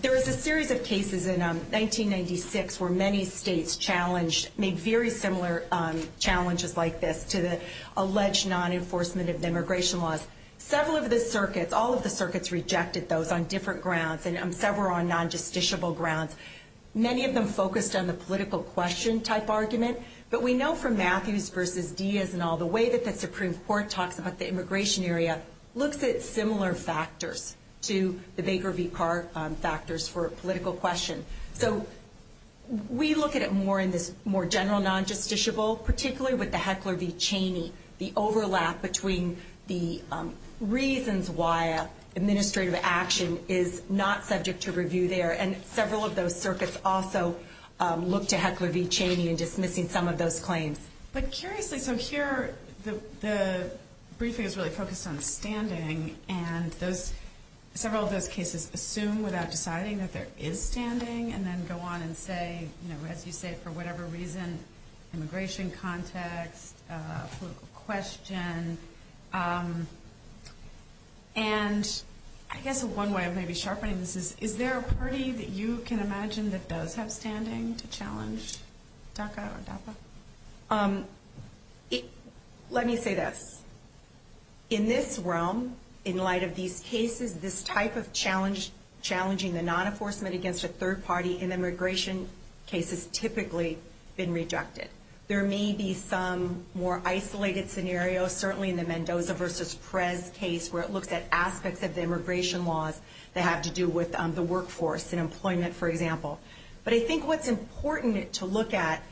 There was a series of cases in 1996 where many states challenged, made very similar challenges like this to the alleged non-enforcement of immigration laws. Several of the circuits, all of the circuits rejected those on different grounds, and several on non-justiciable grounds. Many of them focused on the political question type argument. But we know from Matthews versus Diaz and all the way that the Supreme Court talks about the immigration area looks at similar factors to the Baker v. Carr factors for a political question. So we look at it more in this more general non-justiciable, particularly with the Heckler v. Cheney, the overlap between the reasons why administrative action is not subject to review there. And several of those circuits also look to Heckler v. Cheney in dismissing some of those claims. But curiously, so here the briefing is really focused on standing, and several of those cases assume without deciding that there is standing and then go on and say, as you say, for whatever reason, immigration context, political question. And I guess one way of maybe sharpening this is, is there a party that you can imagine that does have standing to challenge DACA or DAPA? Let me say this. In this realm, in light of these cases, this type of challenge challenging the non-enforcement against a third party in immigration cases typically been rejected. There may be some more isolated scenarios, certainly in the Mendoza v. Prez case, where it looks at aspects of the immigration laws that have to do with the workforce and employment, for example. But I think what's important to look at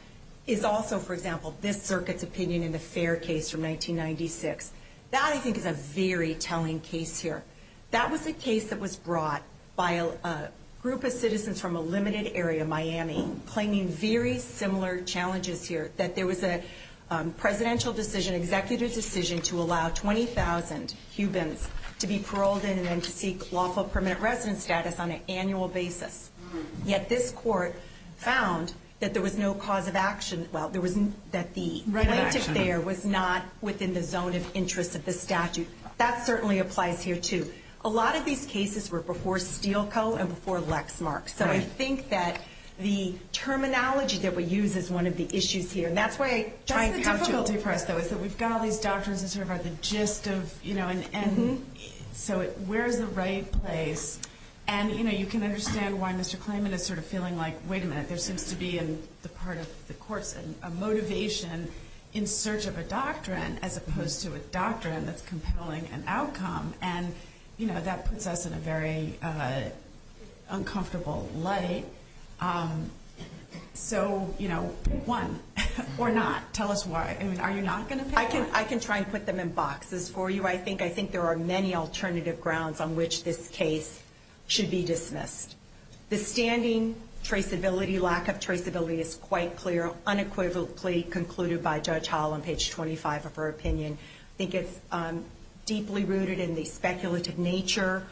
is also, for example, this circuit's opinion in the Fair case from 1996. That, I think, is a very telling case here. That was a case that was brought by a group of citizens from a limited area, Miami, claiming very similar challenges here, that there was a presidential decision, executive decision to allow 20,000 Cubans to be paroled in and then to seek lawful permanent residence status on an annual basis. Yet this court found that there was no cause of action, well, that the plaintiff there was not within the zone of interest of the statute. And that certainly applies here, too. A lot of these cases were before Steele Co. and before Lexmark. So I think that the terminology that we use is one of the issues here. And that's why I try and couch it. That's the difficulty for us, though, is that we've got all these doctrines that sort of are the gist of, you know, and so where is the right place? And, you know, you can understand why Mr. Klayman is sort of feeling like, wait a minute, there seems to be in the part of the courts a motivation in search of a doctrine as opposed to a doctrine that's compelling an outcome. And, you know, that puts us in a very uncomfortable light. So, you know, one, or not. Tell us why. I mean, are you not going to pay for it? I can try and put them in boxes for you. I think there are many alternative grounds on which this case should be dismissed. The standing traceability, lack of traceability is quite clear, unequivocally concluded by Judge Hall on page 25 of her opinion. I think it's deeply rooted in the speculative nature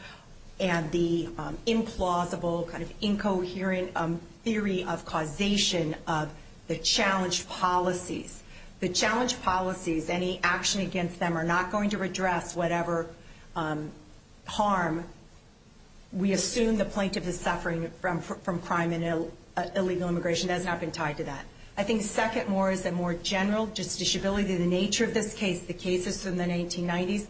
and the implausible kind of incoherent theory of causation of the challenged policies. The challenged policies, any action against them are not going to redress whatever harm. We assume the plaintiff is suffering from crime and illegal immigration. That has not been tied to that. I think second more is a more general justiciability. The nature of this case, the cases from the 1990s,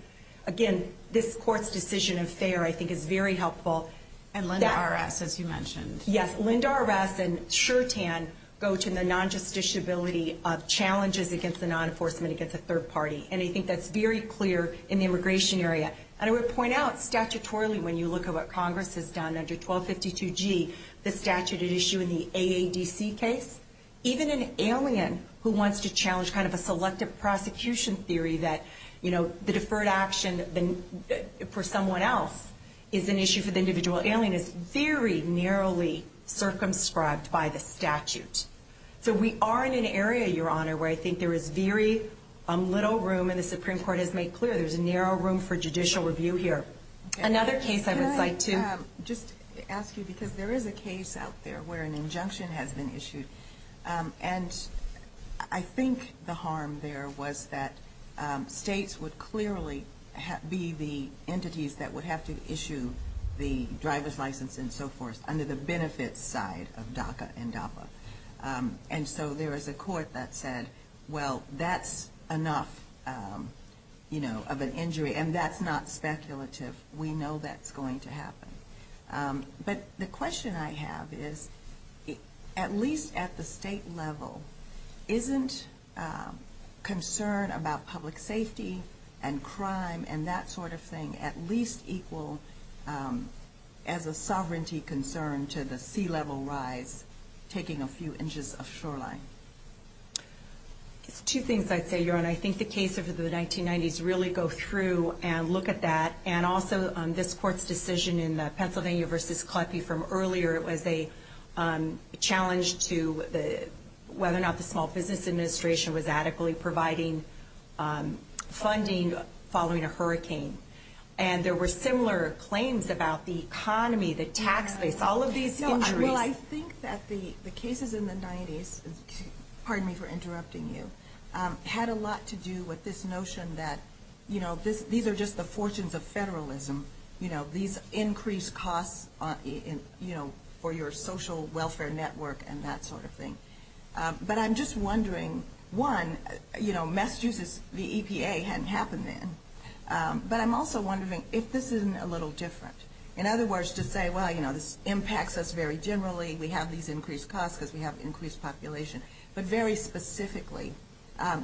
again, this court's decision of fair, I think, is very helpful. And Linda R.S., as you mentioned. Yes, Linda R.S. and Shertan go to the non-justiciability of challenges against the non-enforcement against a third party. And I think that's very clear in the immigration area. And I would point out, statutorily, when you look at what Congress has done under 1252G, the statute at issue in the AADC case, even an alien who wants to challenge kind of a selective prosecution theory that, you know, the deferred action for someone else is an issue for the individual alien is very narrowly circumscribed by the statute. So we are in an area, Your Honor, where I think there is very little room, and the Supreme Court has made clear there's a narrow room for judicial review here. Another case I would like to just ask you, because there is a case out there where an injunction has been issued. And I think the harm there was that states would clearly be the entities that would have to issue the driver's license and so forth under the benefits side of DACA and DAPA. And so there is a court that said, well, that's enough, you know, of an injury. And that's not speculative. We know that's going to happen. But the question I have is, at least at the state level, isn't concern about public safety and crime and that sort of thing at least equal as a sovereignty concern to the sea level rise taking a few inches of shoreline? It's two things I'd say, Your Honor. I think the case of the 1990s really go through and look at that. And also this court's decision in the Pennsylvania v. Kleppe from earlier, it was a challenge to whether or not the Small Business Administration was adequately providing funding following a hurricane. And there were similar claims about the economy, the tax base, all of these injuries. Well, I think that the cases in the 90s, pardon me for interrupting you, had a lot to do with this notion that, you know, these are just the fortunes of federalism. You know, these increased costs, you know, for your social welfare network and that sort of thing. But I'm just wondering, one, you know, Massachusetts, the EPA hadn't happened then. But I'm also wondering if this isn't a little different. In other words, to say, well, you know, this impacts us very generally. We have these increased costs because we have increased population. But very specifically,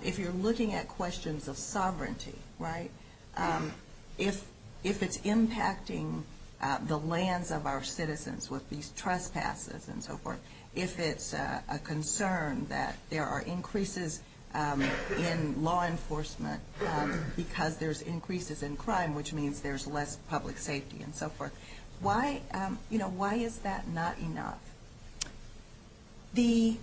if you're looking at questions of sovereignty, right, if it's impacting the lands of our citizens with these trespasses and so forth, if it's a concern that there are increases in law enforcement because there's increases in crime, which means there's less public safety and so forth, why, you know, why is that not enough? The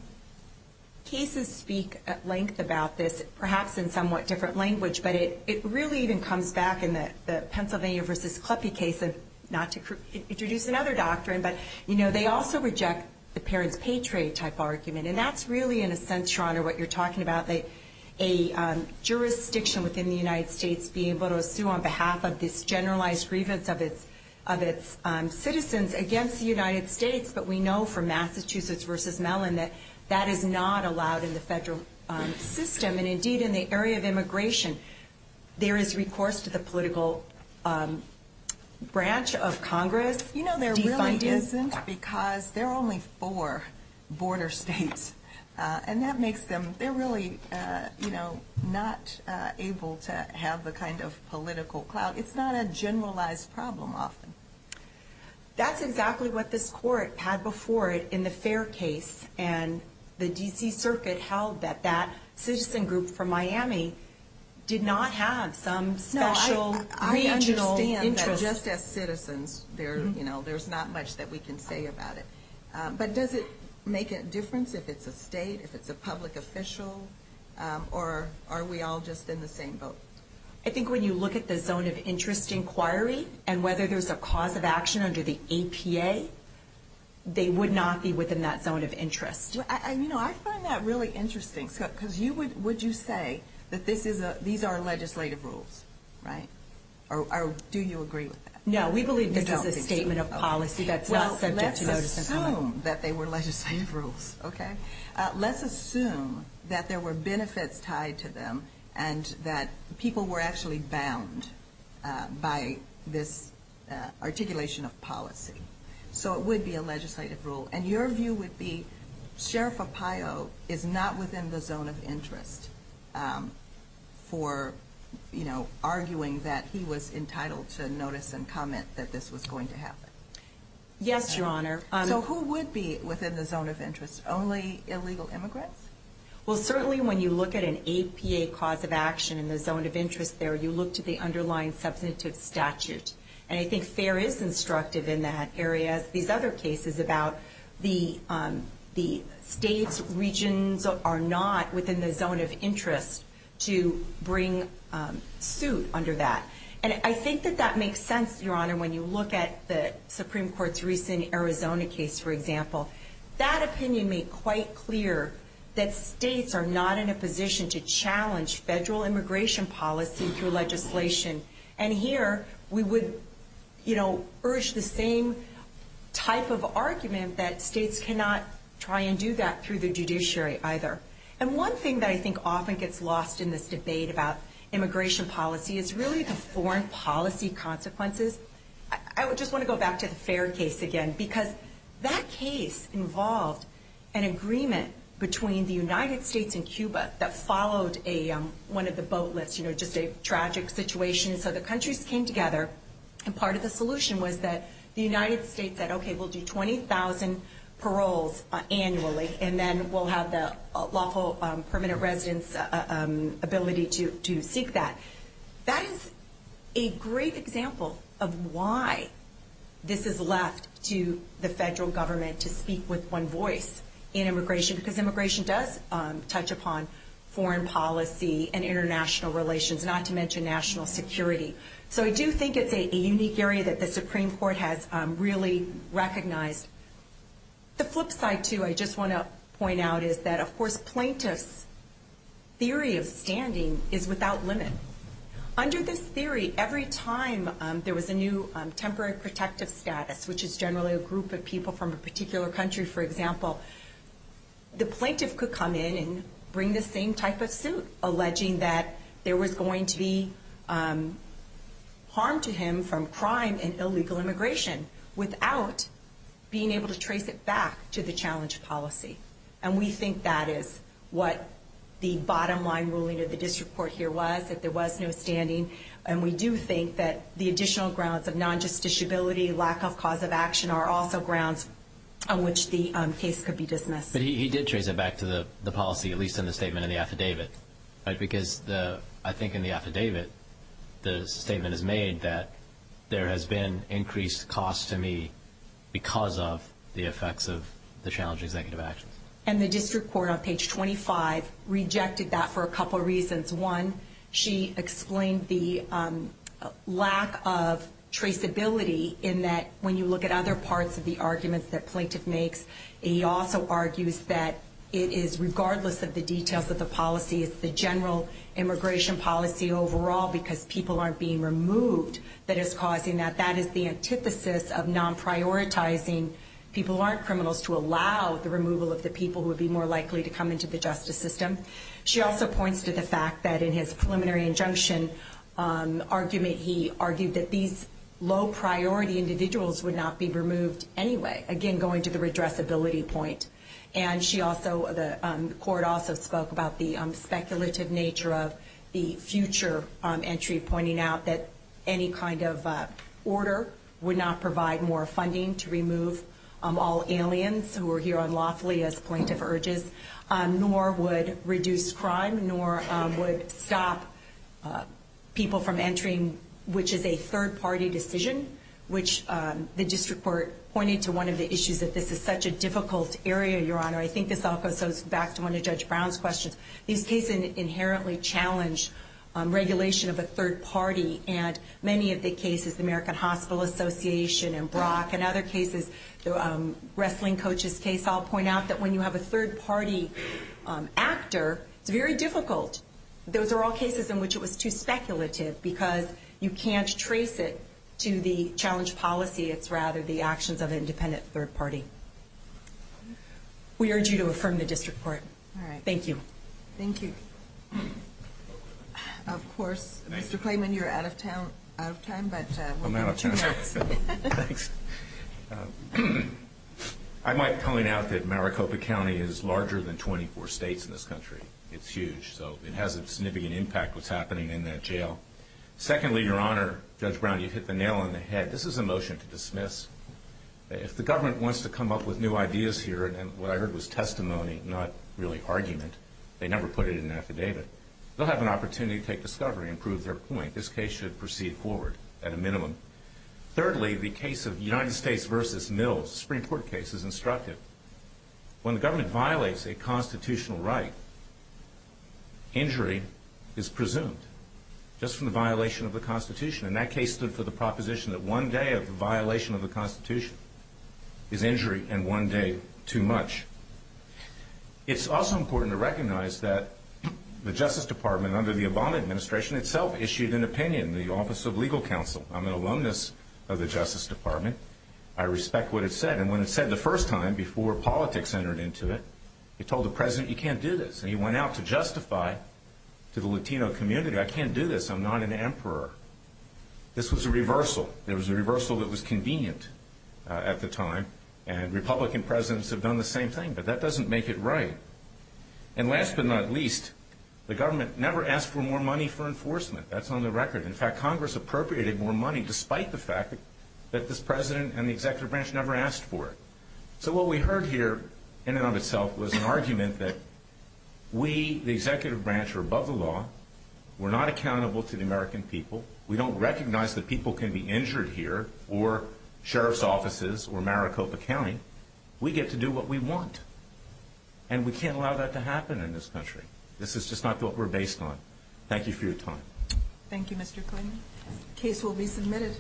cases speak at length about this, perhaps in somewhat different language, but it really even comes back in the Pennsylvania v. Kleppe case, not to introduce another doctrine, but, you know, they also reject the parents pay trade type argument. And that's really, in a sense, Your Honor, what you're talking about, a jurisdiction within the United States being able to sue on behalf of this generalized grievance of its citizens against the United States. But we know from Massachusetts v. Mellon that that is not allowed in the federal system. And indeed, in the area of immigration, there is recourse to the political branch of Congress. You know, there really isn't because there are only four border states, and that makes them they're really, you know, not able to have the kind of political clout. It's not a generalized problem often. That's exactly what this court had before it in the fair case. And the D.C. Circuit held that that citizen group from Miami did not have some special regional interest. Just as citizens there, you know, there's not much that we can say about it. But does it make a difference if it's a state, if it's a public official, or are we all just in the same boat? I think when you look at the zone of interest inquiry and whether there's a cause of action under the APA, they would not be within that zone of interest. You know, I find that really interesting because you would would you say that this is these are legislative rules, right? Or do you agree with that? No, we believe this is a statement of policy that's not subject to notice. Well, let's assume that they were legislative rules, okay? Let's assume that there were benefits tied to them and that people were actually bound by this articulation of policy. So it would be a legislative rule. And your view would be Sheriff Apayo is not within the zone of interest for, you know, arguing that he was entitled to notice and comment that this was going to happen. Yes, Your Honor. So who would be within the zone of interest? Only illegal immigrants? Well, certainly when you look at an APA cause of action in the zone of interest there, you look to the underlying substantive statute. And I think FARE is instructive in that area. These other cases about the state's regions are not within the zone of interest to bring suit under that. And I think that that makes sense, Your Honor, when you look at the Supreme Court's recent Arizona case, for example. That opinion made quite clear that states are not in a position to challenge federal immigration policy through legislation. And here we would, you know, urge the same type of argument that states cannot try and do that through the judiciary either. And one thing that I think often gets lost in this debate about immigration policy is really the foreign policy consequences. I just want to go back to the FARE case again because that case involved an agreement between the United States and Cuba that followed one of the boat lifts, you know, just a tragic situation. So the countries came together, and part of the solution was that the United States said, okay, we'll do 20,000 paroles annually, and then we'll have the lawful permanent residence ability to seek that. That is a great example of why this is left to the federal government to speak with one voice in immigration because immigration does touch upon foreign policy and international relations, not to mention national security. So I do think it's a unique area that the Supreme Court has really recognized. The flip side, too, I just want to point out is that, of course, plaintiffs' theory of standing is without limit. Under this theory, every time there was a new temporary protective status, which is generally a group of people from a particular country, for example, the plaintiff could come in and bring the same type of suit, alleging that there was going to be harm to him from crime and illegal immigration without being able to trace it back to the challenge policy. And we think that is what the bottom line ruling of the district court here was, that there was no standing. And we do think that the additional grounds of non-justiciability, lack of cause of action, are also grounds on which the case could be dismissed. But he did trace it back to the policy, at least in the statement in the affidavit, right? Because I think in the affidavit, the statement is made that there has been increased cost to me because of the effects of the challenge executive actions. And the district court on page 25 rejected that for a couple of reasons. One, she explained the lack of traceability in that when you look at other parts of the arguments that plaintiff makes, he also argues that it is regardless of the details of the policy, it's the general immigration policy overall because people aren't being removed that is causing that. That is the antithesis of non-prioritizing. People aren't criminals to allow the removal of the people who would be more likely to come into the justice system. She also points to the fact that in his preliminary injunction argument, he argued that these low-priority individuals would not be removed anyway, again going to the redressability point. And she also, the court also spoke about the speculative nature of the future entry, pointing out that any kind of order would not provide more funding to remove all aliens who are here unlawfully as plaintiff urges, nor would reduce crime, nor would stop people from entering, which is a third-party decision, which the district court pointed to one of the issues that this is such a difficult area, Your Honor. I think this all goes back to one of Judge Brown's questions. These cases inherently challenge regulation of a third party, and many of the cases, the American Hospital Association and Brock and other cases, the wrestling coaches case, I'll point out that when you have a third-party actor, it's very difficult. Those are all cases in which it was too speculative because you can't trace it to the challenge policy. It's rather the actions of an independent third party. We urge you to affirm the district court. All right. Thank you. Thank you. Of course, Mr. Clayman, you're out of time. I'm out of time. Thanks. I might point out that Maricopa County is larger than 24 states in this country. It's huge, so it has a significant impact what's happening in that jail. Secondly, Your Honor, Judge Brown, you hit the nail on the head. This is a motion to dismiss. If the government wants to come up with new ideas here, and what I heard was testimony, not really argument, they never put it in an affidavit, they'll have an opportunity to take discovery and prove their point. I think this case should proceed forward at a minimum. Thirdly, the case of United States v. Mills, Supreme Court case, is instructive. When the government violates a constitutional right, injury is presumed just from the violation of the Constitution. And that case stood for the proposition that one day of the violation of the Constitution is injury and one day too much. It's also important to recognize that the Justice Department, under the Obama administration, itself issued an opinion in the Office of Legal Counsel. I'm an alumnus of the Justice Department. I respect what it said, and when it said the first time, before politics entered into it, it told the President, you can't do this, and he went out to justify to the Latino community, I can't do this, I'm not an emperor. This was a reversal. There was a reversal that was convenient at the time, and Republican presidents have done the same thing, but that doesn't make it right. And last but not least, the government never asked for more money for enforcement. That's on the record. In fact, Congress appropriated more money, despite the fact that this president and the executive branch never asked for it. So what we heard here, in and of itself, was an argument that we, the executive branch, are above the law, we're not accountable to the American people, we don't recognize that people can be injured here or sheriff's offices or Maricopa County. We get to do what we want, and we can't allow that to happen in this country. This is just not what we're based on. Thank you for your time. Thank you, Mr. Clinton. The case will be submitted.